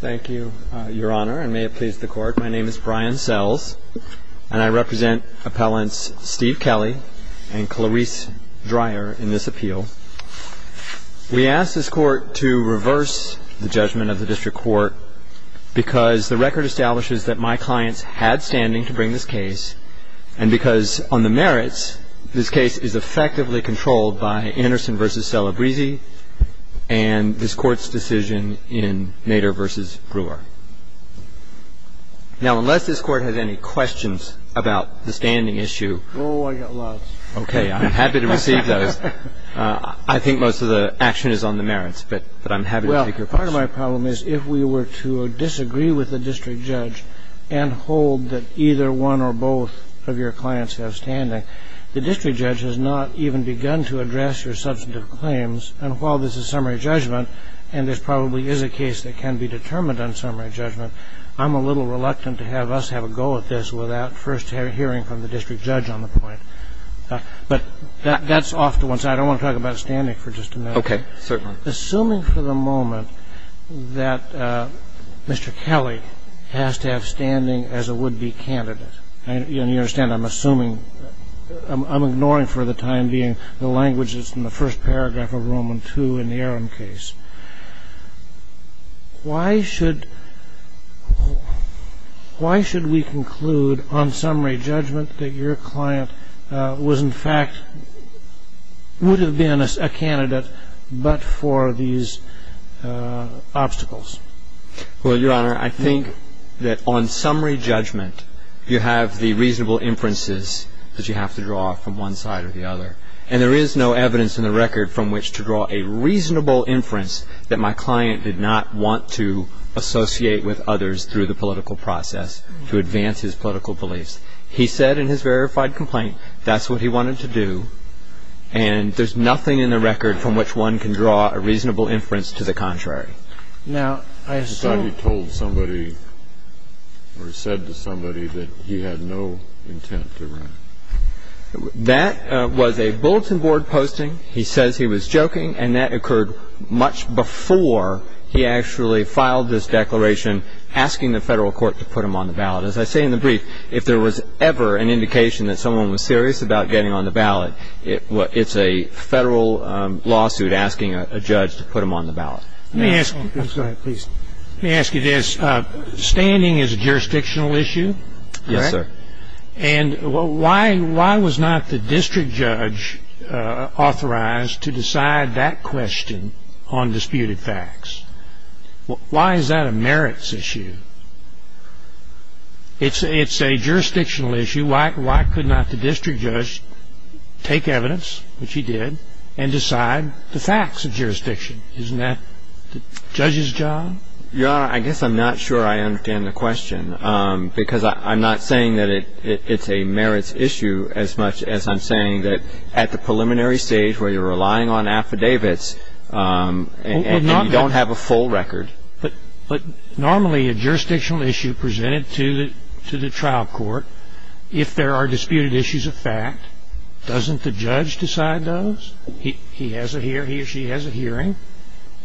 Thank you, Your Honor, and may it please the Court. My name is Brian Sells, and I represent Appellants Steve Kelly and Clarice Dreyer in this appeal. We ask this Court to reverse the judgment of the District Court because the record establishes that my clients had standing to bring this case, and because on the merits, this case is effectively controlled by Anderson v. Celebrezzi, and this Court's decision in Mader v. Brewer. Now, unless this Court has any questions about the standing issue, I'm happy to receive those. I think most of the action is on the merits, but I'm happy to take your questions. Well, part of my problem is if we were to disagree with the district judge and hold that either one or both of your clients have standing, the district judge has not even begun to address your substantive claims. And while this is summary judgment, and this probably is a case that can be determined on summary judgment, I'm a little reluctant to have us have a go at this without first hearing from the district judge on the point. But that's off to one side. I don't want to talk about standing for just a minute. Okay. Certainly. Assuming for the moment that Mr. Kelly has to have standing as a would-be candidate and you understand I'm assuming, I'm ignoring for the time being the language that's in the first paragraph of Roman II in the Aram case, why should we conclude on summary judgment that your client was, in fact, would have been a candidate but for these obstacles? Well, Your Honor, I think that on summary judgment you have the reasonable inferences that you have to draw from one side or the other. And there is no evidence in the record from which to draw a reasonable inference that my client did not want to associate with others through the political process to advance his political beliefs. He said in his verified complaint that's what he wanted to do. And there's nothing in the record from which one can draw a reasonable inference to the contrary. Now, I assume he told somebody or said to somebody that he had no intent to run. That was a bulletin board posting. He says he was joking. And that occurred much before he actually filed this declaration asking the federal court to put him on the ballot. As I say in the brief, if there was ever an indication that someone was serious about getting on the ballot, it's a federal lawsuit asking a judge to put him on the ballot. Let me ask you this. Standing is a jurisdictional issue, correct? Yes, sir. And why was not the district judge authorized to decide that question on disputed facts? Why is that a merits issue? It's a jurisdictional issue. Why could not the district judge take evidence, which he did, and decide the facts of jurisdiction? Isn't that the judge's job? Your Honor, I guess I'm not sure I understand the question because I'm not saying that it's a merits issue as much as I'm saying that at the preliminary stage where you're relying on affidavits and you don't have a full record. But normally a jurisdictional issue presented to the trial court, if there are disputed issues of fact, doesn't the judge decide those? He or she has a hearing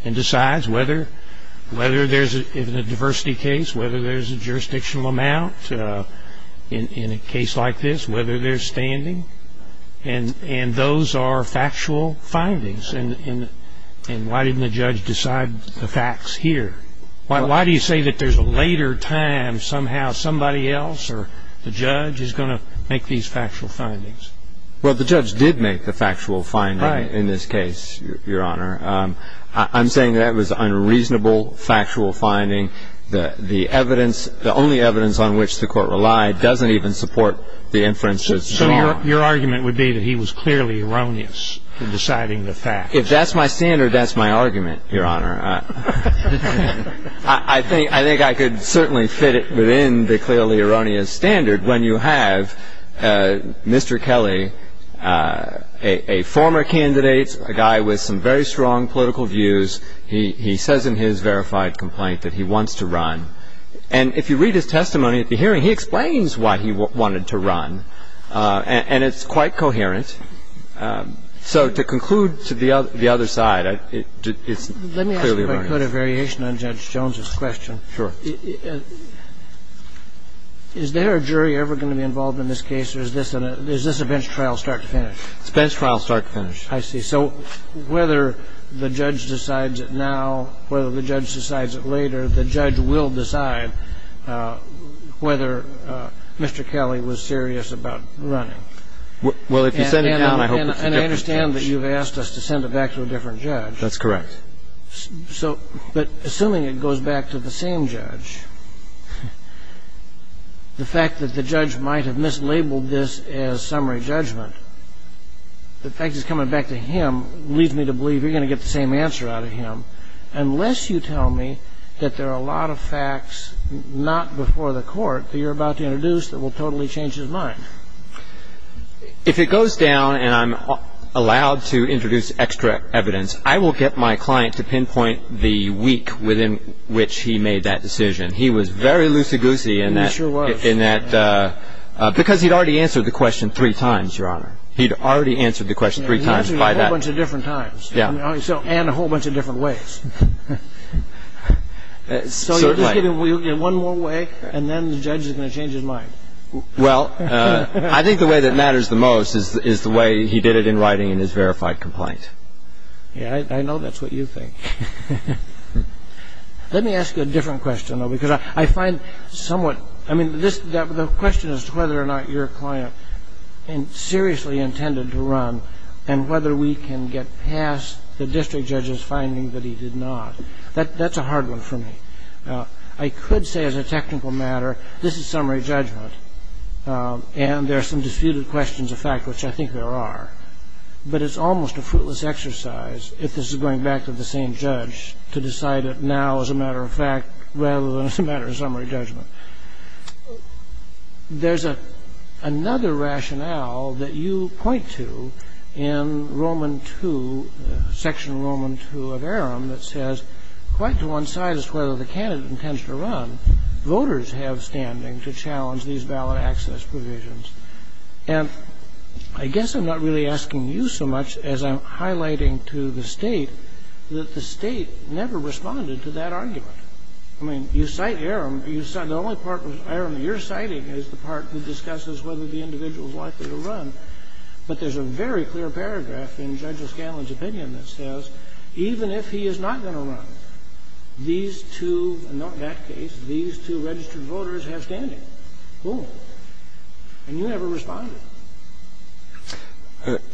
and decides whether there's a diversity case, whether there's a jurisdictional amount in a case like this, whether there's standing. And those are factual findings. And why didn't the judge decide the facts here? Why do you say that there's a later time somehow somebody else or the district judge has to decide the facts? Well, the judge did make the factual finding in this case, Your Honor. I'm saying that it was an unreasonable factual finding. The evidence, the only evidence on which the court relied doesn't even support the inference of the law. So your argument would be that he was clearly erroneous in deciding the facts? If that's my standard, that's my argument, Your Honor. I think I could certainly fit within the clearly erroneous standard when you have Mr. Kelly, a former candidate, a guy with some very strong political views. He says in his verified complaint that he wants to run. And if you read his testimony at the hearing, he explains why he wanted to run. And it's quite coherent. So to conclude to the other side, it's clearly erroneous. Let me ask you about a variation on Judge Jones's question. Sure. Is there a jury ever going to be involved in this case, or is this a bench trial start to finish? It's a bench trial start to finish. I see. So whether the judge decides it now, whether the judge decides it later, the judge will decide whether Mr. Kelly was serious about running. Well, if you send it down, I hope it's a different judge. And I understand that you've asked us to send it back to a different judge. That's correct. But assuming it goes back to the same judge, the fact that the judge might have mislabeled this as summary judgment, the fact it's coming back to him leads me to believe you're going to get the same answer out of him, unless you tell me that there are a lot of facts not before the court that you're about to introduce that will totally change his mind. If it goes down and I'm allowed to introduce extra evidence, I will get my client to pinpoint the week within which he made that decision. He was very loosey-goosey in that. He sure was. Because he'd already answered the question three times, Your Honor. He'd already answered the question three times by that. He's answered it a whole bunch of different times. Yeah. And a whole bunch of different ways. Certainly. So you'll give him one more way, and then the judge is going to change his mind. I think the way that matters the most is the way he did it in writing in his verified complaint. Yeah, I know that's what you think. Let me ask you a different question, though, because I find somewhat – I mean, the question as to whether or not your client seriously intended to run and whether we can get past the district judge's finding that he did not, that's a hard one for me. I could say as a technical matter, this is summary judgment, and there are some disputed questions of fact which I think there are. But it's almost a fruitless exercise, if this is going back to the same judge, to decide it now as a matter of fact rather than as a matter of summary judgment. There's another rationale that you point to in Roman II, Section Roman II of Aram that says, quite to one's sadness whether the candidate intends to run, voters have standing to challenge these valid access provisions. And I guess I'm not really asking you so much as I'm highlighting to the State that the State never responded to that argument. I mean, you cite Aram. The only part of Aram you're citing is the part that discusses whether the individual is likely to run. But there's a very clear paragraph in Judge O'Scanlan's opinion that says even if he is not going to run, these two, in that case, these two registered voters have standing. Boom. And you never responded.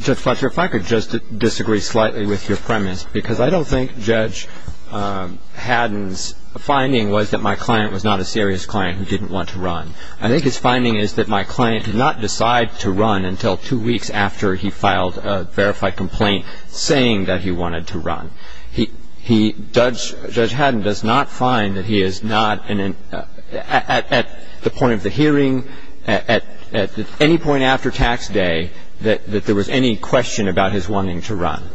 Judge Fletcher, if I could just disagree slightly with your premise, because I don't think Judge Haddon's finding was that my client was not a serious client who didn't want to run. I think his finding is that my client did not decide to run until two weeks after he judged. Judge Haddon does not find that he is not, at the point of the hearing, at any point after tax day, that there was any question about his wanting to run.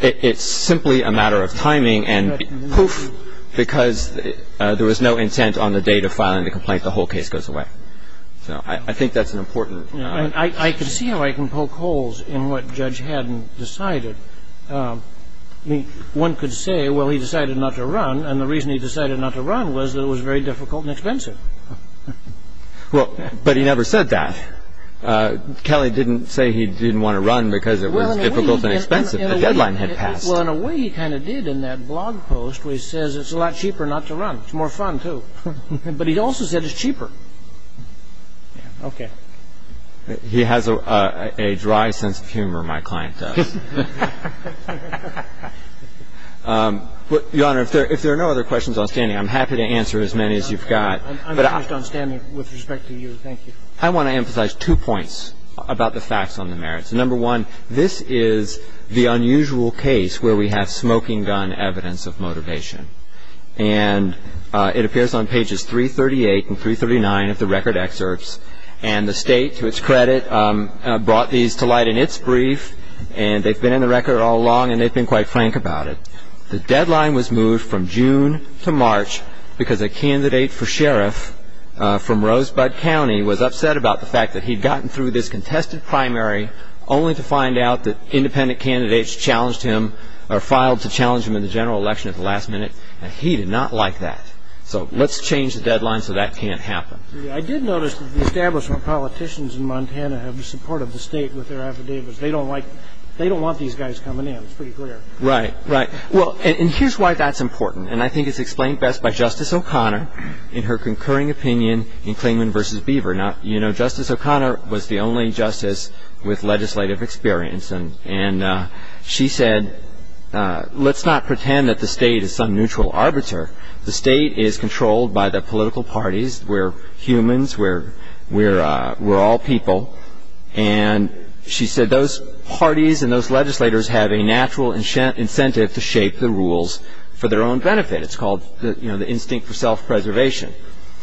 It's simply a matter of timing and poof, because there was no intent on the date of filing the complaint. The whole case goes away. So I think that's an important point. I could see how I can poke holes in what Judge Haddon decided. One could say, well, he decided not to run, and the reason he decided not to run was that it was very difficult and expensive. But he never said that. Kelly didn't say he didn't want to run because it was difficult and expensive. The deadline had passed. Well, in a way, he kind of did in that blog post, where he says it's a lot cheaper not to run. It's more fun, too. But he also said it's cheaper. Okay. He has a dry sense of humor, my client does. Your Honor, if there are no other questions on standing, I'm happy to answer as many as you've got. I'm finished on standing with respect to you. Thank you. I want to emphasize two points about the facts on the merits. Number one, this is the unusual case where we have smoking gun evidence of motivation. And it appears on pages 338 and 339 of the record excerpts. And the state, to its credit, brought these to light in its brief. And they've been in the record all along, and they've been quite frank about it. The deadline was moved from June to March because a candidate for sheriff from Rosebud County was upset about the fact that he'd gotten through this contested primary only to find out that independent candidates challenged him or filed to challenge him in the general election at the last minute, and he did not like that. So let's change the deadline so that can't happen. I did notice that the establishment politicians in Montana have been supportive of the state with their affidavits. They don't like, they don't want these guys coming in, it's pretty clear. Right, right. Well, and here's why that's important. And I think it's explained best by Justice O'Connor in her concurring opinion in Klingman v. Beaver. Now, you know, Justice O'Connor was the only justice with legislative experience. And she said, let's not pretend that the state is some neutral arbiter. The state is controlled by the political parties. We're humans, we're all people. And she said, those parties and those legislators have a natural incentive to shape the rules for their own benefit. It's called the instinct for self-preservation.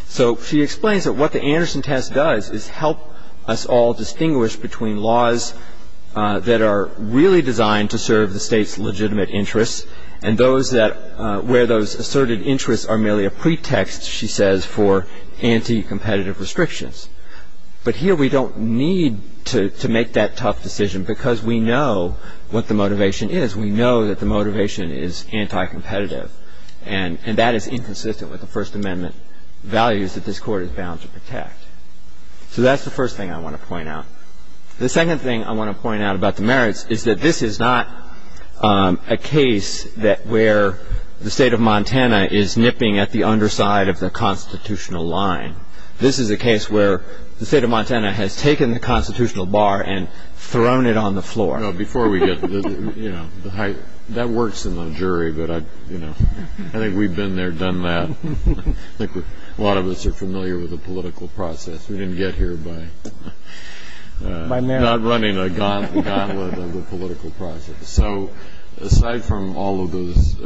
So she explains that what the Anderson test does is help us all distinguish between laws that are really designed to serve the state's legitimate interests and those that where those asserted interests are merely a pretext, she says, for anti-competitive restrictions. But here we don't need to make that tough decision because we know what the motivation is. We know that the motivation is anti-competitive. And that is inconsistent with the First Amendment values that this court is bound to protect. So that's the first thing I want to point out. The second thing I want to point out about the merits is that this is not a case that where the state of Montana is nipping at the underside of the constitutional line. This is a case where the state of Montana has taken the constitutional bar and thrown it on the floor. No, before we get, you know, the height. That works in the jury, but I, you know, I think we've been there, done that. I think a lot of us are familiar with the political process. We didn't get here by not running a gauntlet of the political process. So aside from all of those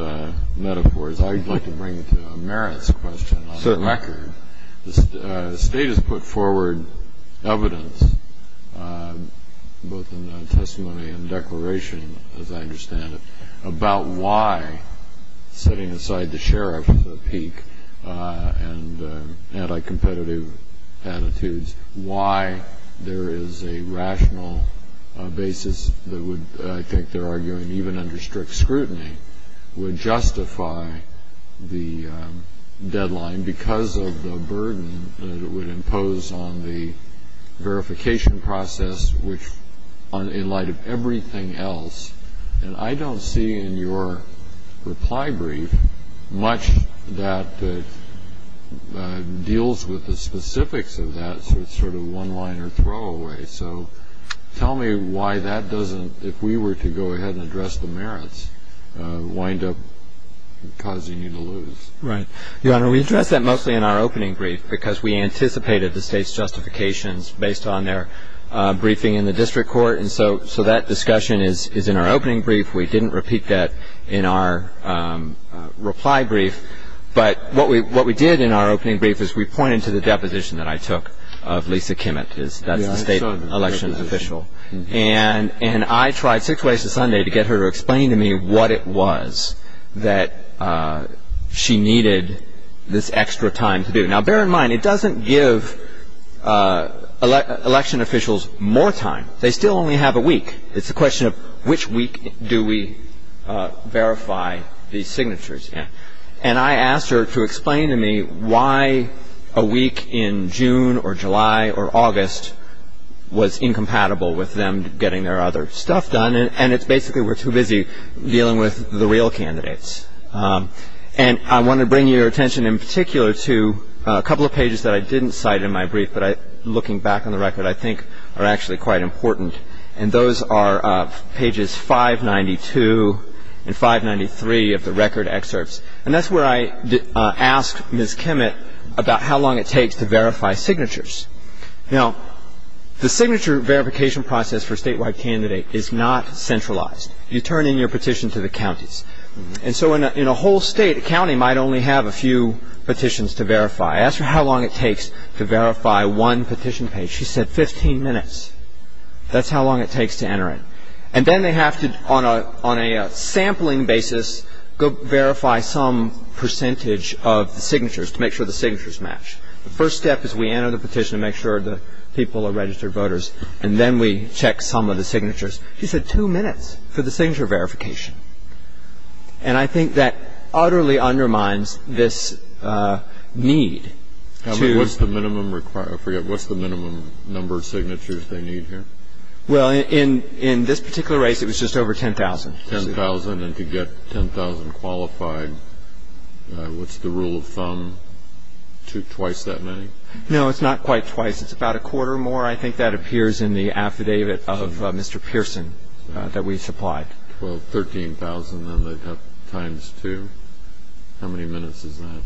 metaphors, I'd like to bring to merits a question on the record. The state has put forward evidence, both in the testimony and declaration, as I understand it, about why, setting aside the sheriff's peak and anti-competitive attitudes, why there is a rational basis that would, I think they're arguing even under strict scrutiny, would justify the deadline because of the burden that it would impose on the verification process, which in light of everything else. And I don't see in your reply brief much that deals with the specifics of that sort of one-liner throwaway. So tell me why that doesn't, if we were to go ahead and address the merits, wind up causing you to lose. Right. Your Honor, we addressed that mostly in our opening brief because we anticipated the state's justifications based on their briefing in the district court. And so that discussion is in our opening brief. We didn't repeat that in our reply brief. But what we did in our opening brief is we pointed to the deposition that I took of Lisa Kimmett. That's the state election official. And I tried six ways to Sunday to get her to explain to me what it was that she needed this extra time to do. Now, bear in mind, it doesn't give election officials more time. They still only have a week. It's a question of which week do we verify these signatures in. And I asked her to explain to me why a week in June or July or August was incompatible with them getting their other stuff done. And it's basically we're too busy dealing with the real candidates. And I want to bring your attention in particular to a couple of pages that I didn't cite in my brief, but looking back on the record, I think are actually quite important. And those are pages 592 and 593 of the record excerpts. And that's where I asked Ms. Kimmett about how long it takes to verify signatures. Now, the signature verification process for a statewide candidate is not centralized. You turn in your petition to the counties. And so in a whole state, a county might only have a few petitions to verify. I asked her how long it takes to verify one petition page. She said 15 minutes. That's how long it takes to enter it. And then they have to, on a sampling basis, go verify some percentage of the signatures to make sure the signatures match. The first step is we enter the petition to make sure the people are registered voters. And then we check some of the signatures. She said two minutes for the signature verification. And I think that utterly undermines this need to – What's the minimum number of signatures they need here? Well, in this particular race, it was just over 10,000. 10,000. And to get 10,000 qualified, what's the rule of thumb? Twice that many? No, it's not quite twice. It's about a quarter more. I think that appears in the affidavit of Mr. Pearson that we supplied. Well, 13,000, then they'd have times two. How many minutes is that?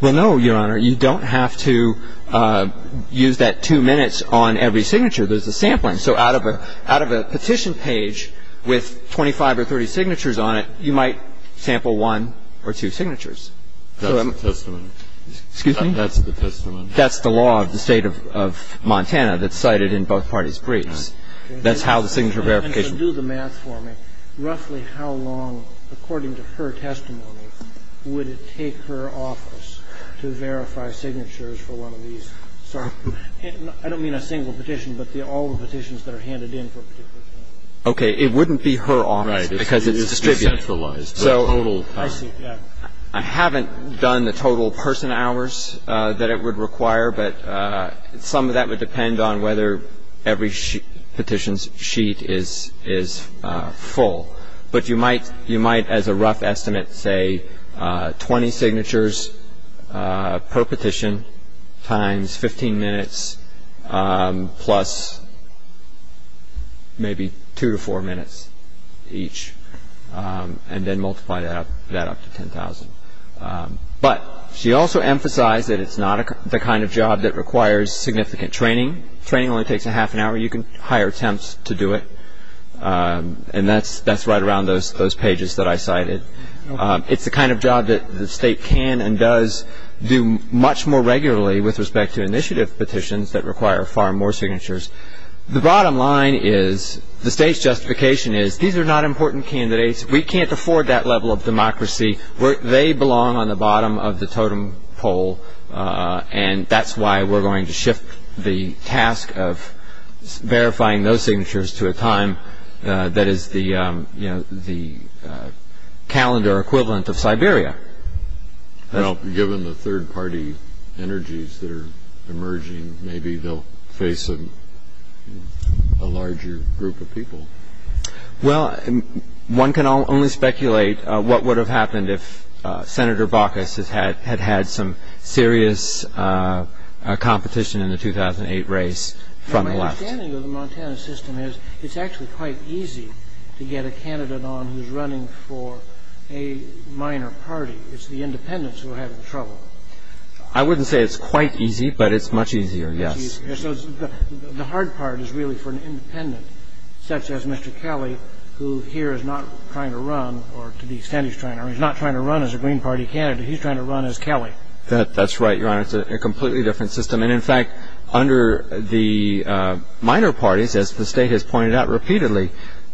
Well, no, Your Honor. You don't have to use that two minutes on every signature. There's a sampling. So out of a petition page with 25 or 30 signatures on it, you might sample one or two signatures. That's the testament. Excuse me? That's the testament. That's the law of the State of Montana that's cited in both parties' briefs. That's how the signature verification – But do the math for me. Roughly how long, according to her testimony, would it take her office to verify signatures for one of these? I don't mean a single petition, but all the petitions that are handed in for a particular case. Okay. It wouldn't be her office because it's distributed. Right. It's decentralized. So I haven't done the total person hours that it would require, but some of that would depend on whether every petition's sheet is full. But you might, as a rough estimate, say 20 signatures per petition times 15 minutes plus maybe two to four minutes each, and then multiply that up to 10,000. But she also emphasized that it's not the kind of job that requires significant training. Training only takes a half an hour. You can hire attempts to do it, and that's right around those pages that I cited. It's the kind of job that the State can and does do much more regularly with respect to initiative petitions that require far more signatures. The bottom line is, the State's justification is, these are not important candidates. We can't afford that level of democracy. They belong on the bottom of the totem pole, and that's why we're going to shift the task of verifying those signatures to a time that is the calendar equivalent of Siberia. Well, given the third-party energies that are emerging, maybe they'll face a larger group of people. Well, one can only speculate what would have happened if Senator Baucus had had some serious competition in the 2008 race from the left. My understanding of the Montana system is, it's actually quite easy to get a candidate on who's running for a minor party. It's the independents who are having trouble. I wouldn't say it's quite easy, but it's much easier, yes. So the hard part is really for an independent, such as Mr. Kelly, who here is not trying to run, or to the extent he's trying to run, he's not trying to run as a Green Party candidate. He's trying to run as Kelly. That's right, Your Honor. It's a completely different system. And in fact, under the minor parties, as the State has pointed out repeatedly,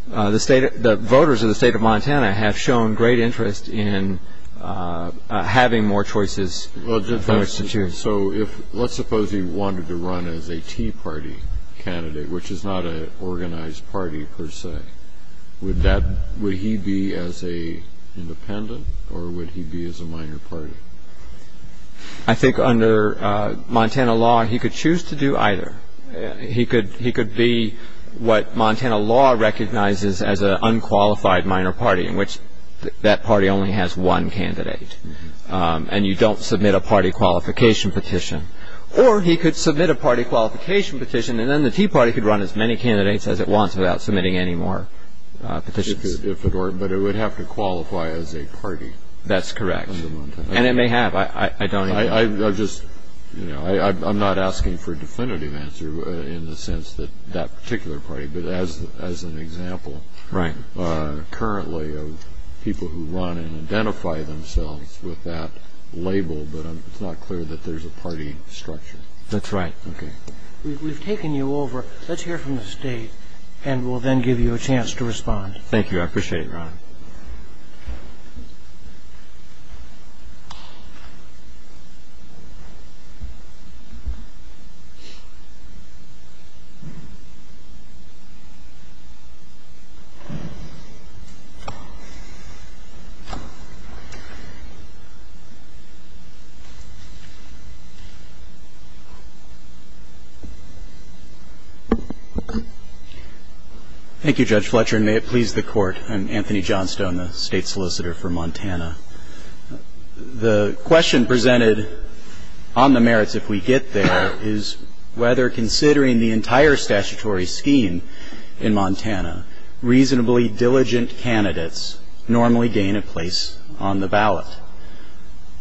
the voters of the State of Montana have shown great interest in having more choices for which to choose. Let's suppose he wanted to run as a Tea Party candidate, which is not an organized party per se. Would he be as an independent, or would he be as a minor party? I think under Montana law, he could choose to do either. He could be what Montana law recognizes as an unqualified minor party, in which that party only has one candidate. And you don't submit a party qualification petition. Or he could submit a party qualification petition, and then the Tea Party could run as many candidates as it wants without submitting any more petitions. If it were, but it would have to qualify as a party. That's correct. And it may have. I don't know. I'm not asking for a definitive answer in the sense that that particular party, but as an example currently of people who run and identify themselves with that label, but it's not clear that there's a party structure. That's right. OK. We've taken you over. Let's hear from the State, and we'll then give you a chance to respond. Thank you. I appreciate it, Ron. Thank you, Judge Fletcher, and may it please the Court. I'm Anthony Johnstone, the State Solicitor for Montana. The question presented on the merits, if we get there, is whether, considering the entire statutory scheme in Montana, reasonably diligent candidates normally gain a place on the ballot.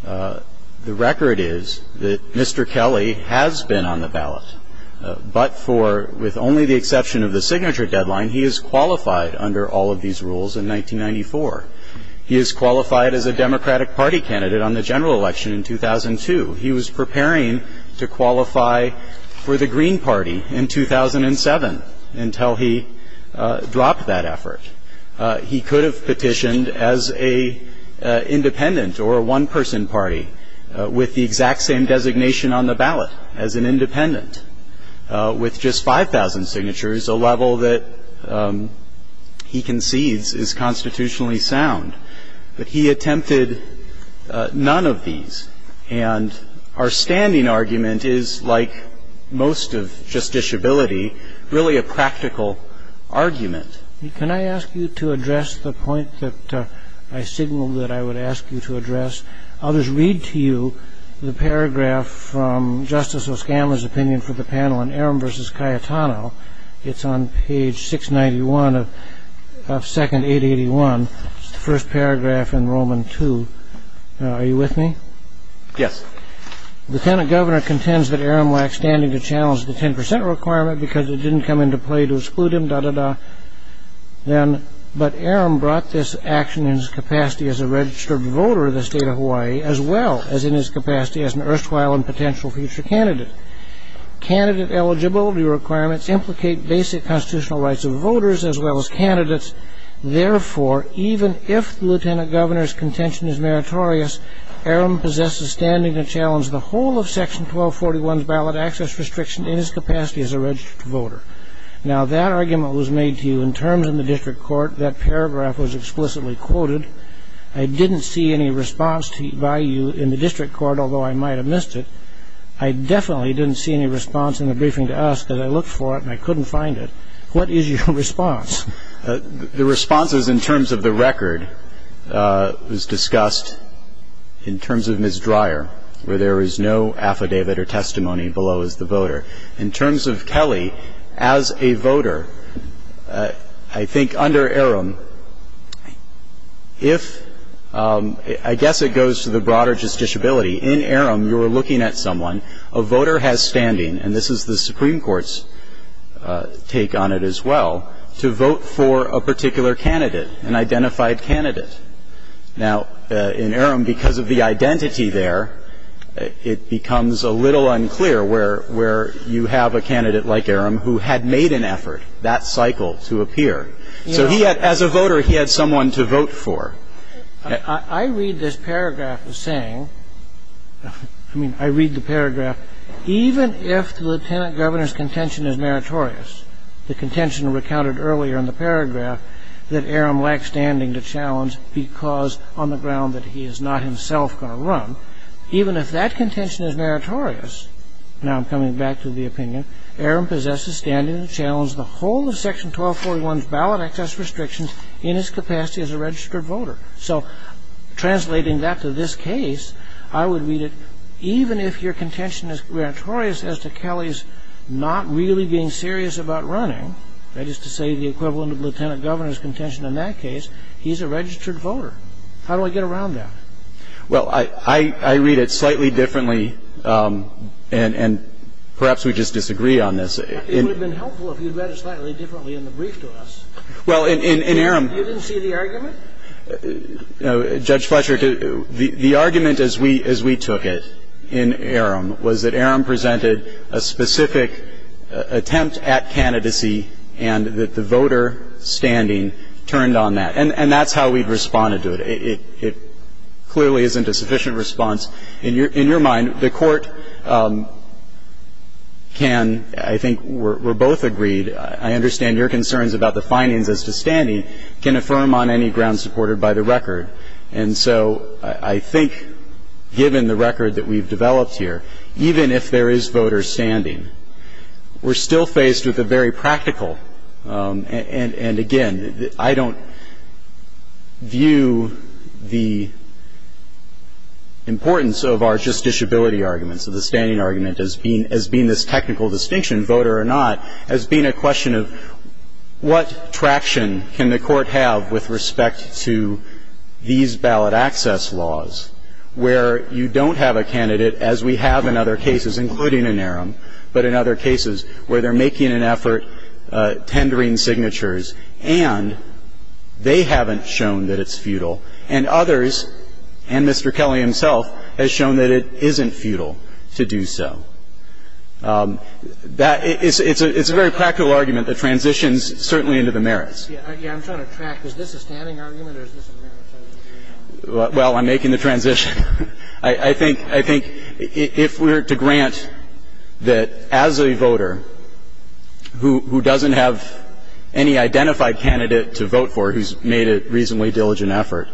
The record is that Mr. Kelly has been on the ballot, but for, with only the exception of the signature deadline, he is qualified under all of these rules in 1994. He is qualified as a Democratic Party candidate on the general election in 2002. He was preparing to qualify for the Green Party in 2007 until he dropped that effort. He could have petitioned as a independent or a one-person party with the exact same designation on the ballot as an independent, with just 5,000 signatures, a level that he concedes is constitutionally sound. But he attempted none of these, and our standing argument is, like most of justiciability, really a practical argument. Can I ask you to address the point that I signaled that I would ask you to address? I'll just read to you the paragraph from Justice O'Scala's opinion for the panel on Aram v. Cayetano. It's on page 691 of 2nd 881, the first paragraph in Roman II. Are you with me? Yes. Lieutenant Governor contends that Aram lacked standing to challenge the 10% requirement because it didn't come into play to exclude him, da, da, da. But Aram brought this action in his capacity as a registered voter of the state of Hawaii, as well as in his capacity as an erstwhile and potential future candidate. Candidate eligibility requirements implicate basic constitutional rights of voters, as well as candidates. Therefore, even if the Lieutenant Governor's contention is meritorious, Aram possesses standing to challenge the whole of Section 1241's ballot access restriction in his capacity as a registered voter. Now, that argument was made to you in terms in the district court. That paragraph was explicitly quoted. I didn't see any response by you in the district court, although I might have missed it. I definitely didn't see any response in the briefing to us, because I looked for it and I couldn't find it. What is your response? The response is in terms of the record, was discussed in terms of Ms. Dreyer, where there is no affidavit or testimony below as the voter. In terms of Kelly, as a voter, I think under Aram, if, I guess it goes to the broader justiciability. In Aram, you're looking at someone, a voter has standing, and this is the Supreme Court's take on it as well, to vote for a particular candidate, an identified candidate. Now, in Aram, because of the identity there, it becomes a little unclear where you have a candidate like Aram who had made an effort, that cycle, to appear. So he had, as a voter, he had someone to vote for. I read this paragraph as saying, I mean, I read the paragraph, even if the Lieutenant Governor's contention is meritorious, the contention recounted earlier in the paragraph that Aram lacks standing to challenge because on the ground that he is not himself going to run, even if that contention is meritorious, now I'm coming back to the opinion, Aram possesses standing to challenge the whole of Section 1241's ballot access restrictions in his capacity as a registered voter. So translating that to this case, I would read it, even if your contention is meritorious as to Kelly's not really being serious about running, that is to say, the equivalent of the Lieutenant Governor's contention in that case, he's a registered voter. How do I get around that? Well, I read it slightly differently, and perhaps we just disagree on this. It would have been helpful if you'd read it slightly differently in the brief to us. Well, in Aram you didn't see the argument? Judge Fletcher, the argument as we took it in Aram was that Aram presented a specific attempt at candidacy and that the voter standing turned on that. And that's how we've responded to it. It clearly isn't a sufficient response. In your mind, the Court can, I think we're both agreed, I understand your concerns about the findings as to standing, can affirm on any ground supported by the record. And so I think given the record that we've developed here, even if there is voter standing, we're still faced with a very practical, and again, I don't view the importance of our justiciability arguments, of the standing argument as being this technical distinction, voter or not, as being a question of what traction can the Court have with respect to these ballot access laws, where you don't have a candidate, as we have in other cases, including in Aram, but in other cases, where they're making an effort, tendering signatures, and they haven't shown that it's futile, and others, and Mr. Kelly himself, has shown that it isn't futile to do so. That is a very practical argument that transitions certainly into the merits. Yeah, I'm trying to track. Is this a standing argument or is this a merits argument? Well, I'm making the transition. I think if we're to grant that as a voter who doesn't have any identified candidate to vote for who's made a reasonably diligent effort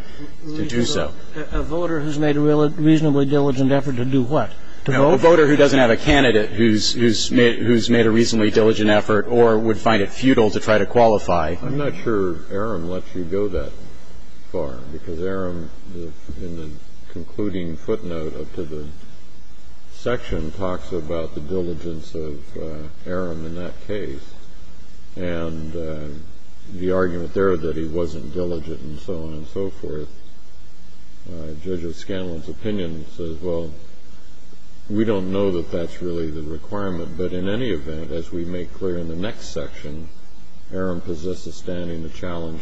to do so. A voter who's made a reasonably diligent effort to do what? To vote? A voter who doesn't have a candidate who's made a reasonably diligent effort or would find it futile to try to qualify. I'm not sure Aram lets you go that far, because Aram, in the concluding footnote up to the section, talks about the diligence of Aram in that case. And the argument there that he wasn't diligent and so on and so forth, Judge O'Scanlan's opinion says, well, we don't know that that's really the requirement. But in any event, as we make clear in the next section, Aram possesses standing to challenge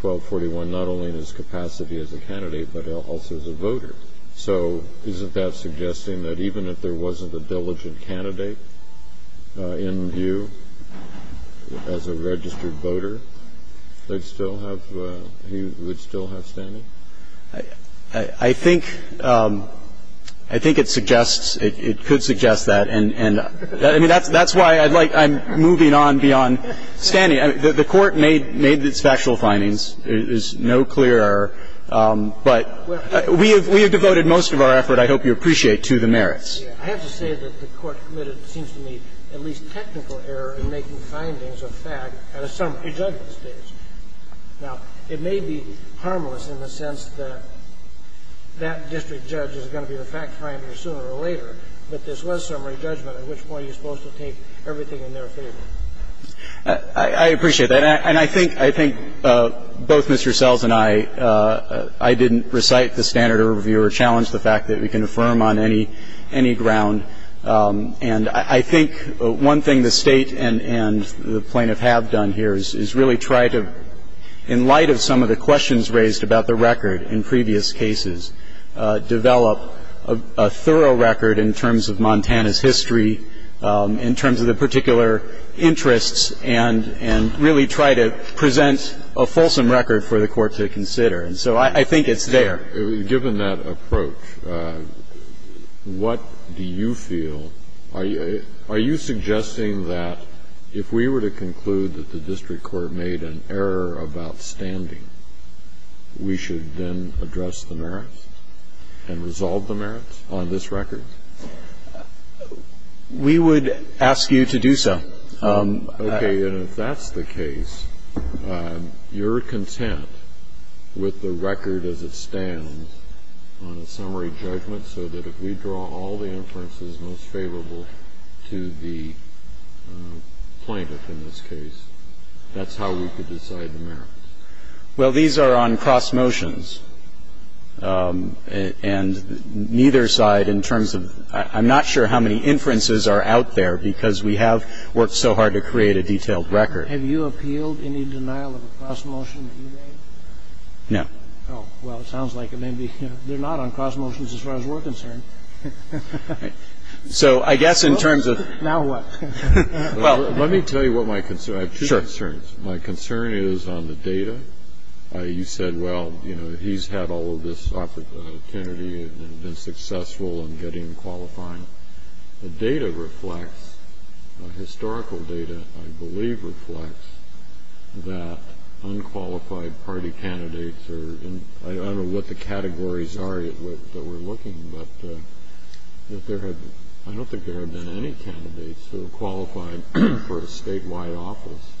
1241, not only in his capacity as a candidate, but also as a voter. So isn't that suggesting that even if there wasn't a diligent candidate in view, as a registered voter, he would still have standing? I think it suggests, it could suggest that. And I mean, that's why I'd like, I'm moving on beyond standing. I mean, the Court made its factual findings. There's no clear error, but we have devoted most of our effort, I hope you appreciate, to the merits. I have to say that the Court committed, it seems to me, at least technical error in making findings of fact at a summary judgment stage. Now, it may be harmless in the sense that that district judge is going to be the fact finder sooner or later, but this was summary judgment, at which point you're supposed to take everything in their favor. I appreciate that. And I think both Mr. Sells and I, I didn't recite the standard of review or challenge the fact that we can affirm on any ground. And I think one thing the State and the plaintiff have done here is really try to, in light of some of the questions raised about the record in previous cases, develop a thorough record in terms of Montana's history, in terms of the particular interests, and really try to present a fulsome record for the Court to consider. And so I think it's there. Given that approach, what do you feel, are you suggesting that if we were to conclude that the district court made an error of outstanding, we should then address the merits and resolve the merits on this record? We would ask you to do so. Okay. And if that's the case, you're content with the record as it stands on a summary judgment so that if we draw all the inferences most favorable to the plaintiff in this case, that's how we could decide the merits? Well, these are on cross motions, and neither side in terms of – I'm not sure how many inferences are out there because we have worked so hard to create a detailed record. Have you appealed any denial of a cross motion that you made? No. Oh, well, it sounds like it may be – they're not on cross motions as far as we're concerned. So I guess in terms of – Now what? Well, let me tell you what my concern – I have two concerns. My concern is on the data. You said, well, you know, he's had all of this opportunity and been successful in getting qualifying. The data reflects – historical data, I believe, reflects that unqualified party candidates are in – I don't know what the categories are that we're looking, but I don't think there have been any candidates who have qualified for a statewide office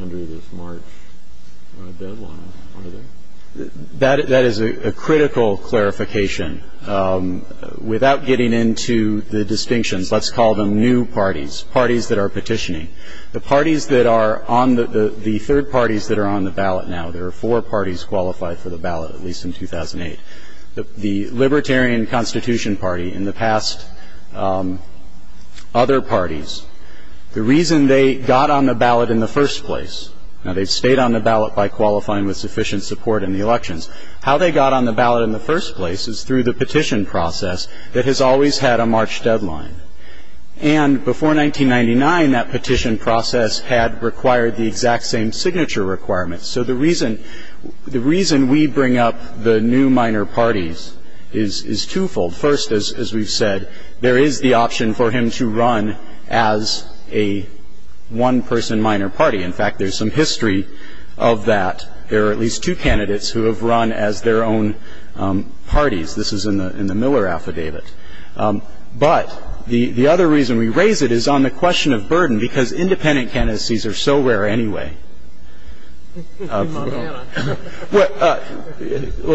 under this March deadline, are there? That is a critical clarification. Without getting into the distinctions, let's call them new parties, parties that are petitioning. The parties that are on the – the third parties that are on the ballot now, there are four parties qualified for the ballot, at least in 2008. The Libertarian Constitution Party and the past other parties, the reason they got on the ballot in the first place – now, they've stayed on the ballot by qualifying with sufficient support in the elections. How they got on the ballot in the first place is through the petition process that has always had a March deadline. And before 1999, that petition process had required the exact same signature requirements. So the reason – the reason we bring up the new minor parties is twofold. First, as we've said, there is the option for him to run as a one-person minor party. In fact, there's some history of that. There are at least two candidates who have run as their own parties. This is in the Miller Affidavit. But the other reason we raise it is on the question of burden, because independent candidacies are so rare anyway. Well,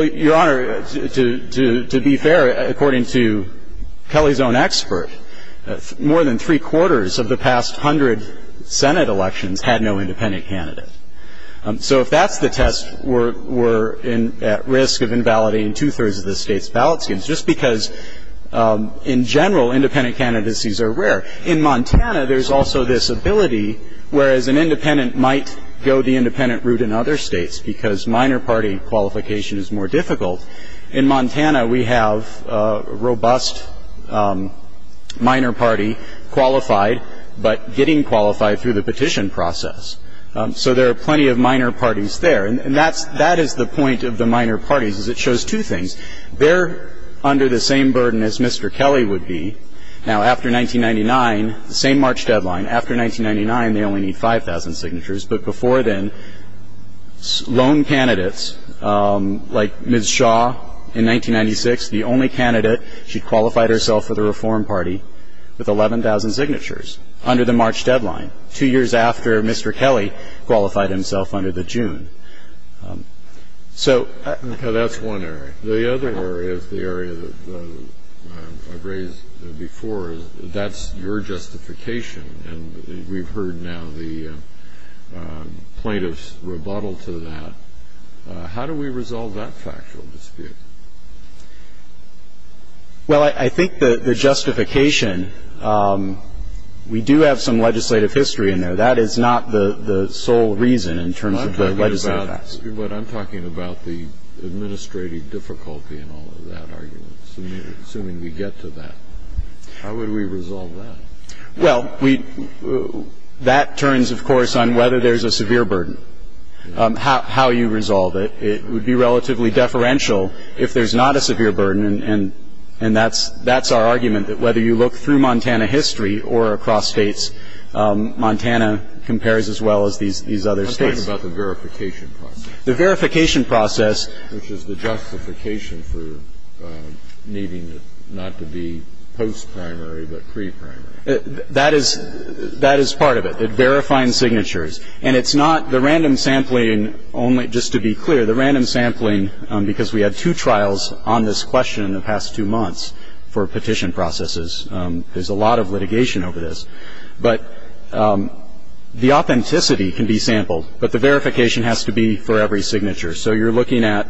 Your Honor, to be fair, according to Kelly's own expert, more than three-quarters of the past hundred Senate elections had no independent candidate. So if that's the test, we're at risk of invalidating two-thirds of the state's ballot schemes, just because, in general, independent candidacies are rare. In Montana, there's also this ability, whereas an independent might go the independent route in other states because minor party qualification is more difficult, in Montana, we have a robust minor party qualified, but getting qualified through the petition process. So there are plenty of minor parties there. And that's – that is the point of the minor parties, is it shows two things. They're under the same burden as Mr. Kelly would be. Now, after 1999, the same March deadline, after 1999, they only need 5,000 signatures. But before then, lone candidates, like Ms. Shaw in 1996, the only candidate, she qualified herself for the Reform Party with 11,000 signatures under the March deadline, two years after Mr. Kelly qualified himself under the June. So – Well, I think the justification, we do have some legislative history in there. That is not the sole reason in terms of the legislative facts. But I'm talking about the administrative difficulty in all of that argument, assuming we get to that. How would we resolve that? Well, we – that turns, of course, on whether there's a severe burden, how you resolve it. It would be relatively deferential if there's not a severe burden, and that's our argument that whether you look through Montana history or across states, Montana compares as well as these other states. I'm just talking about the verification process. The verification process – Which is the justification for needing it not to be post-primary but pre-primary. That is – that is part of it, verifying signatures. And it's not the random sampling only – just to be clear, the random sampling – because we had two trials on this question in the past two months for petition processes. There's a lot of litigation over this. But the authenticity can be sampled, but the verification has to be for every signature. So you're looking at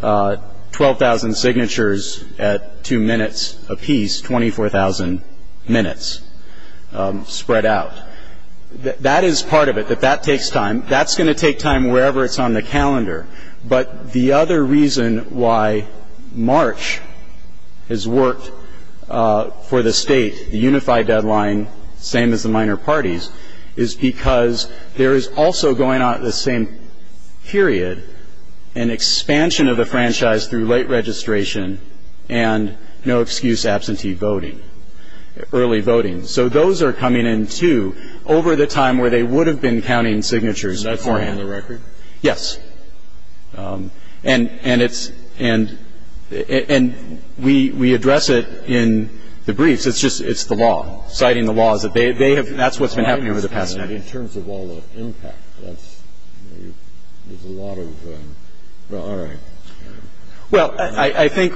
12,000 signatures at two minutes apiece, 24,000 minutes spread out. That is part of it, that that takes time. That's going to take time wherever it's on the calendar. But the other reason why March has worked for the state, the unified deadline, same as the minor parties, is because there is also going on at the same period an expansion of the franchise through late registration and no-excuse absentee voting, early voting. So those are coming in, too, over the time where they would have been counting signatures beforehand. Is that still on the record? Yes. And it's – and we address it in the briefs. It's just – it's the law. Citing the law is that they have – that's what's been happening over the past year. But in terms of all the impact, that's – there's a lot of – well, all right. Well, I think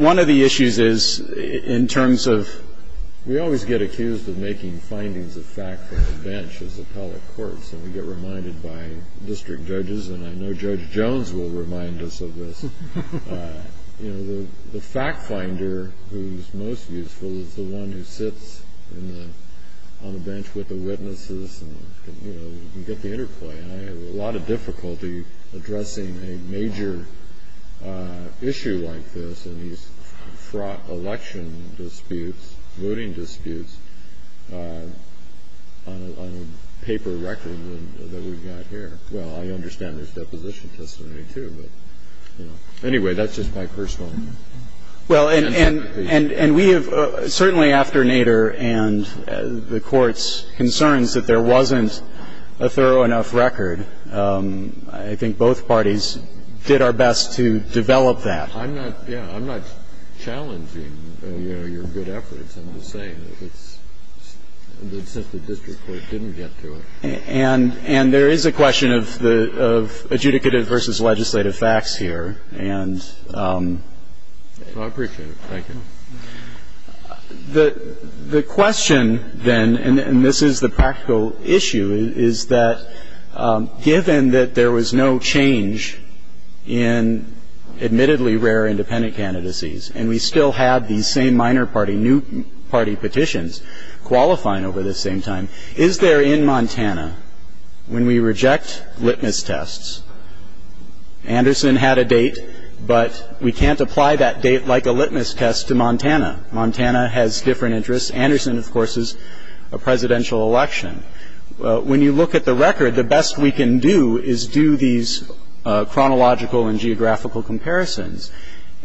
one of the issues is in terms of – We always get accused of making findings of fact from the bench as appellate courts, and we get reminded by district judges, and I know Judge Jones will remind us of this. You know, the fact finder who's most useful is the one who sits on the bench with the witnesses and, you know, you can get the interplay. And I have a lot of difficulty addressing a major issue like this, and he's fraught election disputes, voting disputes, on a paper record that we've got here. Well, I understand there's deposition testimony, too, but, you know. Anyway, that's just my personal interpretation. Well, and we have – certainly after Nader and the Court's concerns that there wasn't a thorough enough record, I think both parties did our best to develop that. I'm not – yeah, I'm not challenging, you know, your good efforts. I'm just saying that it's – since the district court didn't get to it. And there is a question of adjudicative versus legislative facts here, and – Well, I appreciate it. Thank you. The question, then – and this is the practical issue – is that given that there was no change in admittedly rare independent candidacies, and we still had these same minor party, new party petitions qualifying over the same time, is there in Montana, when we reject litmus tests – Anderson had a date, but we can't apply that date like a litmus test to Montana. Montana has different interests. Anderson, of course, is a presidential election. When you look at the record, the best we can do is do these chronological and geographical comparisons.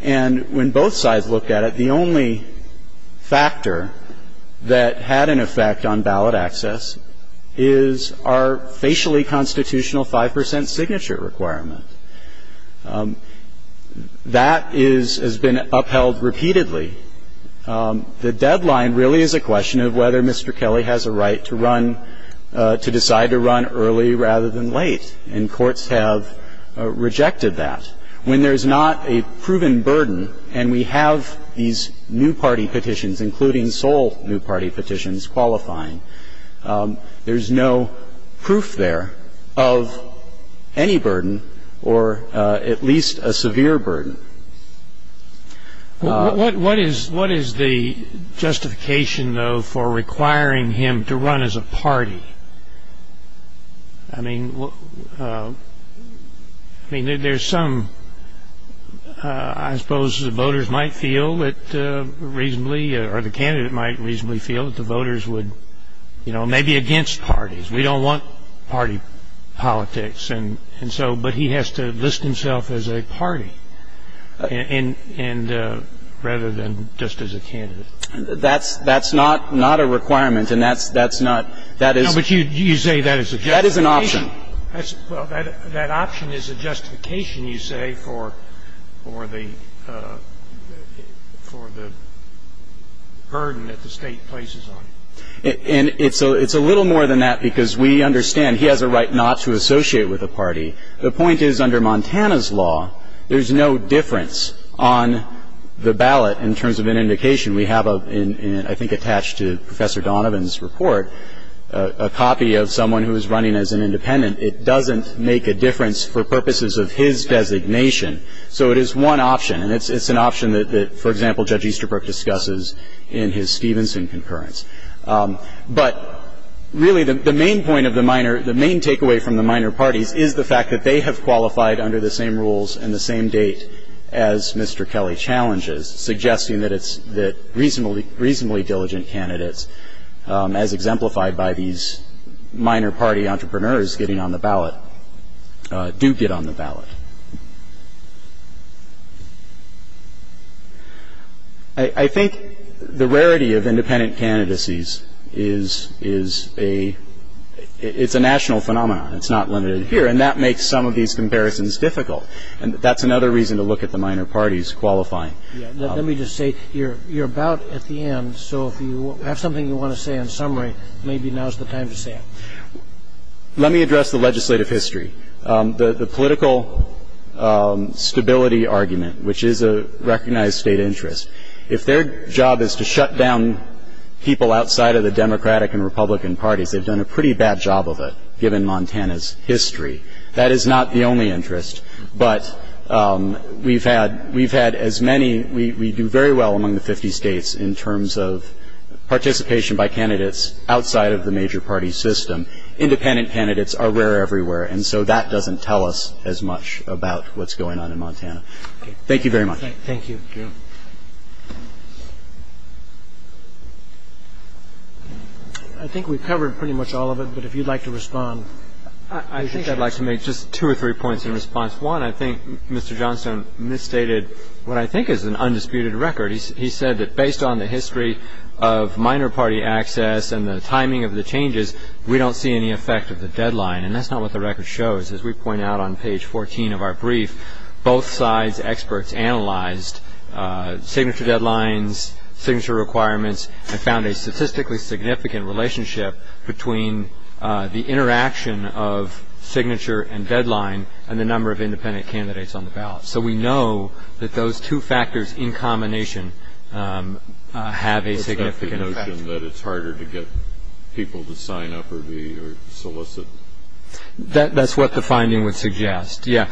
And when both sides look at it, the only factor that had an effect on ballot access is our facially constitutional 5 percent signature requirement. That is – has been upheld repeatedly. The deadline really is a question of whether Mr. Kelly has a right to run – to decide to run early rather than late. And courts have rejected that. When there's not a proven burden, and we have these new party petitions, including sole new party petitions qualifying, there's no proof there of any burden or at least a severe burden. What is the justification, though, for requiring him to run as a party? I mean, there's some – I suppose the voters might feel that reasonably – or the candidate might reasonably feel that the voters would – you know, maybe against parties. We don't want party politics. And so – but he has to list himself as a party rather than just as a candidate. That's not a requirement. And that's not – that is – No, but you say that is a justification. That is an option. Well, that option is a justification, you say, for the burden that the State places on him. And it's a little more than that because we understand he has a right not to associate with a party. The point is, under Montana's law, there's no difference on the ballot in terms of an indication. We have a – I think attached to Professor Donovan's report – a copy of someone who is running as an independent. It doesn't make a difference for purposes of his designation. So it is one option, and it's an option that, for example, Judge Easterbrook discusses in his Stevenson concurrence. But, really, the main point of the minor – the main takeaway from the minor parties is the fact that they have qualified under the same rules and the same date as Mr. Kelly challenges, suggesting that it's – that reasonably diligent candidates, as exemplified by these minor party entrepreneurs getting on the ballot, do get on the ballot. I think the rarity of independent candidacies is a – it's a national phenomenon. It's not limited here. And that makes some of these comparisons difficult. And that's another reason to look at the minor parties qualifying. Let me just say, you're about at the end, so if you have something you want to say in summary, maybe now's the time to say it. Let me address the legislative history. The political stability argument, which is a recognized state interest, if their job is to shut down people outside of the Democratic and Republican parties, they've done a pretty bad job of it, given Montana's history. That is not the only interest. But we've had – we've had as many – we do very well among the 50 states in terms of participation by candidates outside of the major party system. Independent candidates are rare everywhere. And so that doesn't tell us as much about what's going on in Montana. Thank you very much. Thank you. I think we've covered pretty much all of it, but if you'd like to respond. I think I'd like to make just two or three points in response. One, I think Mr. Johnstone misstated what I think is an undisputed record. He said that based on the history of minor party access and the timing of the changes, we don't see any effect of the deadline. And that's not what the record shows. As we point out on page 14 of our brief, both sides, experts, analyzed signature deadlines, signature requirements, and found a statistically significant relationship between the interaction So we know that those two factors in combination have a significant effect. But that's the notion that it's harder to get people to sign up or solicit. That's what the finding would suggest, yeah.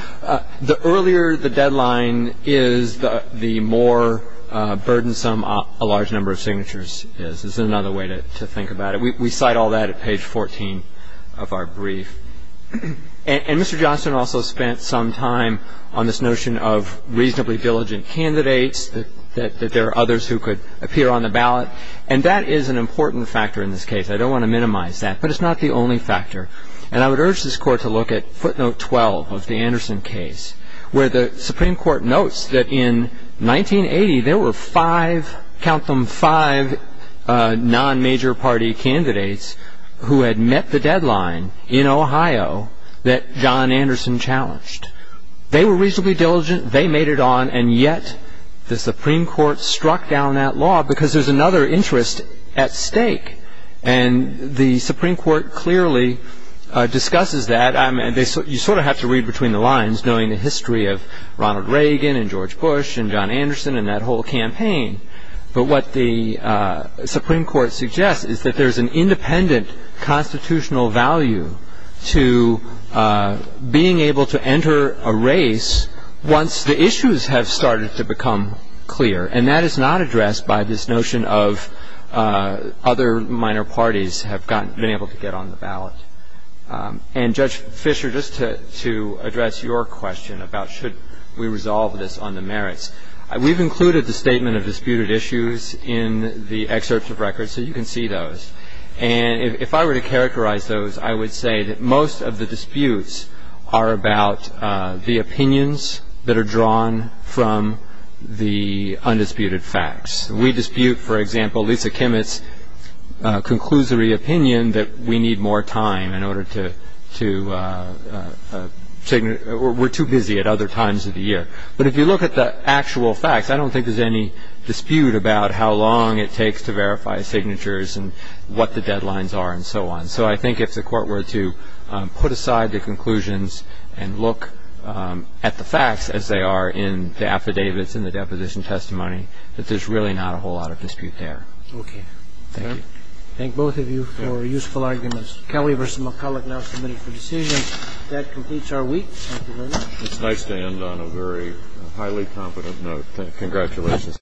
The earlier the deadline is, the more burdensome a large number of signatures is. This is another way to think about it. We cite all that at page 14 of our brief. And Mr. Johnstone also spent some time on this notion of reasonably diligent candidates, that there are others who could appear on the ballot. And that is an important factor in this case. I don't want to minimize that. But it's not the only factor. And I would urge this Court to look at footnote 12 of the Anderson case, where the Supreme Court notes that in 1980, there were five, count them, five non-major party candidates who had met the deadline in Ohio that John Anderson challenged. They were reasonably diligent. They made it on. And yet, the Supreme Court struck down that law because there's another interest at stake. And the Supreme Court clearly discusses that. You sort of have to read between the lines, knowing the history of Ronald Reagan and George Bush and John Anderson and that whole campaign. But what the Supreme Court suggests is that there's an independent constitutional value to being able to enter a race once the issues have started to become clear. And that is not addressed by this notion of other minor parties have been able to get on the ballot. And Judge Fisher, just to address your question about should we resolve this on the merits, we've included the statement of disputed issues in the excerpts of records, so you can see those. And if I were to characterize those, I would say that most of the disputes are about the opinions that are drawn from the undisputed facts. We dispute, for example, Lisa Kimmett's conclusory opinion that we need more time in order to, we're too busy at other times of the year. But if you look at the actual facts, I don't think there's any dispute about how long it takes to verify signatures and what the deadlines are and so on. So I think if the Court were to put aside the conclusions and look at the facts as they are in the affidavits and the deposition testimony, that there's really not a whole lot of dispute there. Okay. Thank you. Thank both of you for useful arguments. Kelly v. McCulloch now submitted for decision. That completes our week. Thank you very much. It's nice to end on a very highly confident note. Congratulations.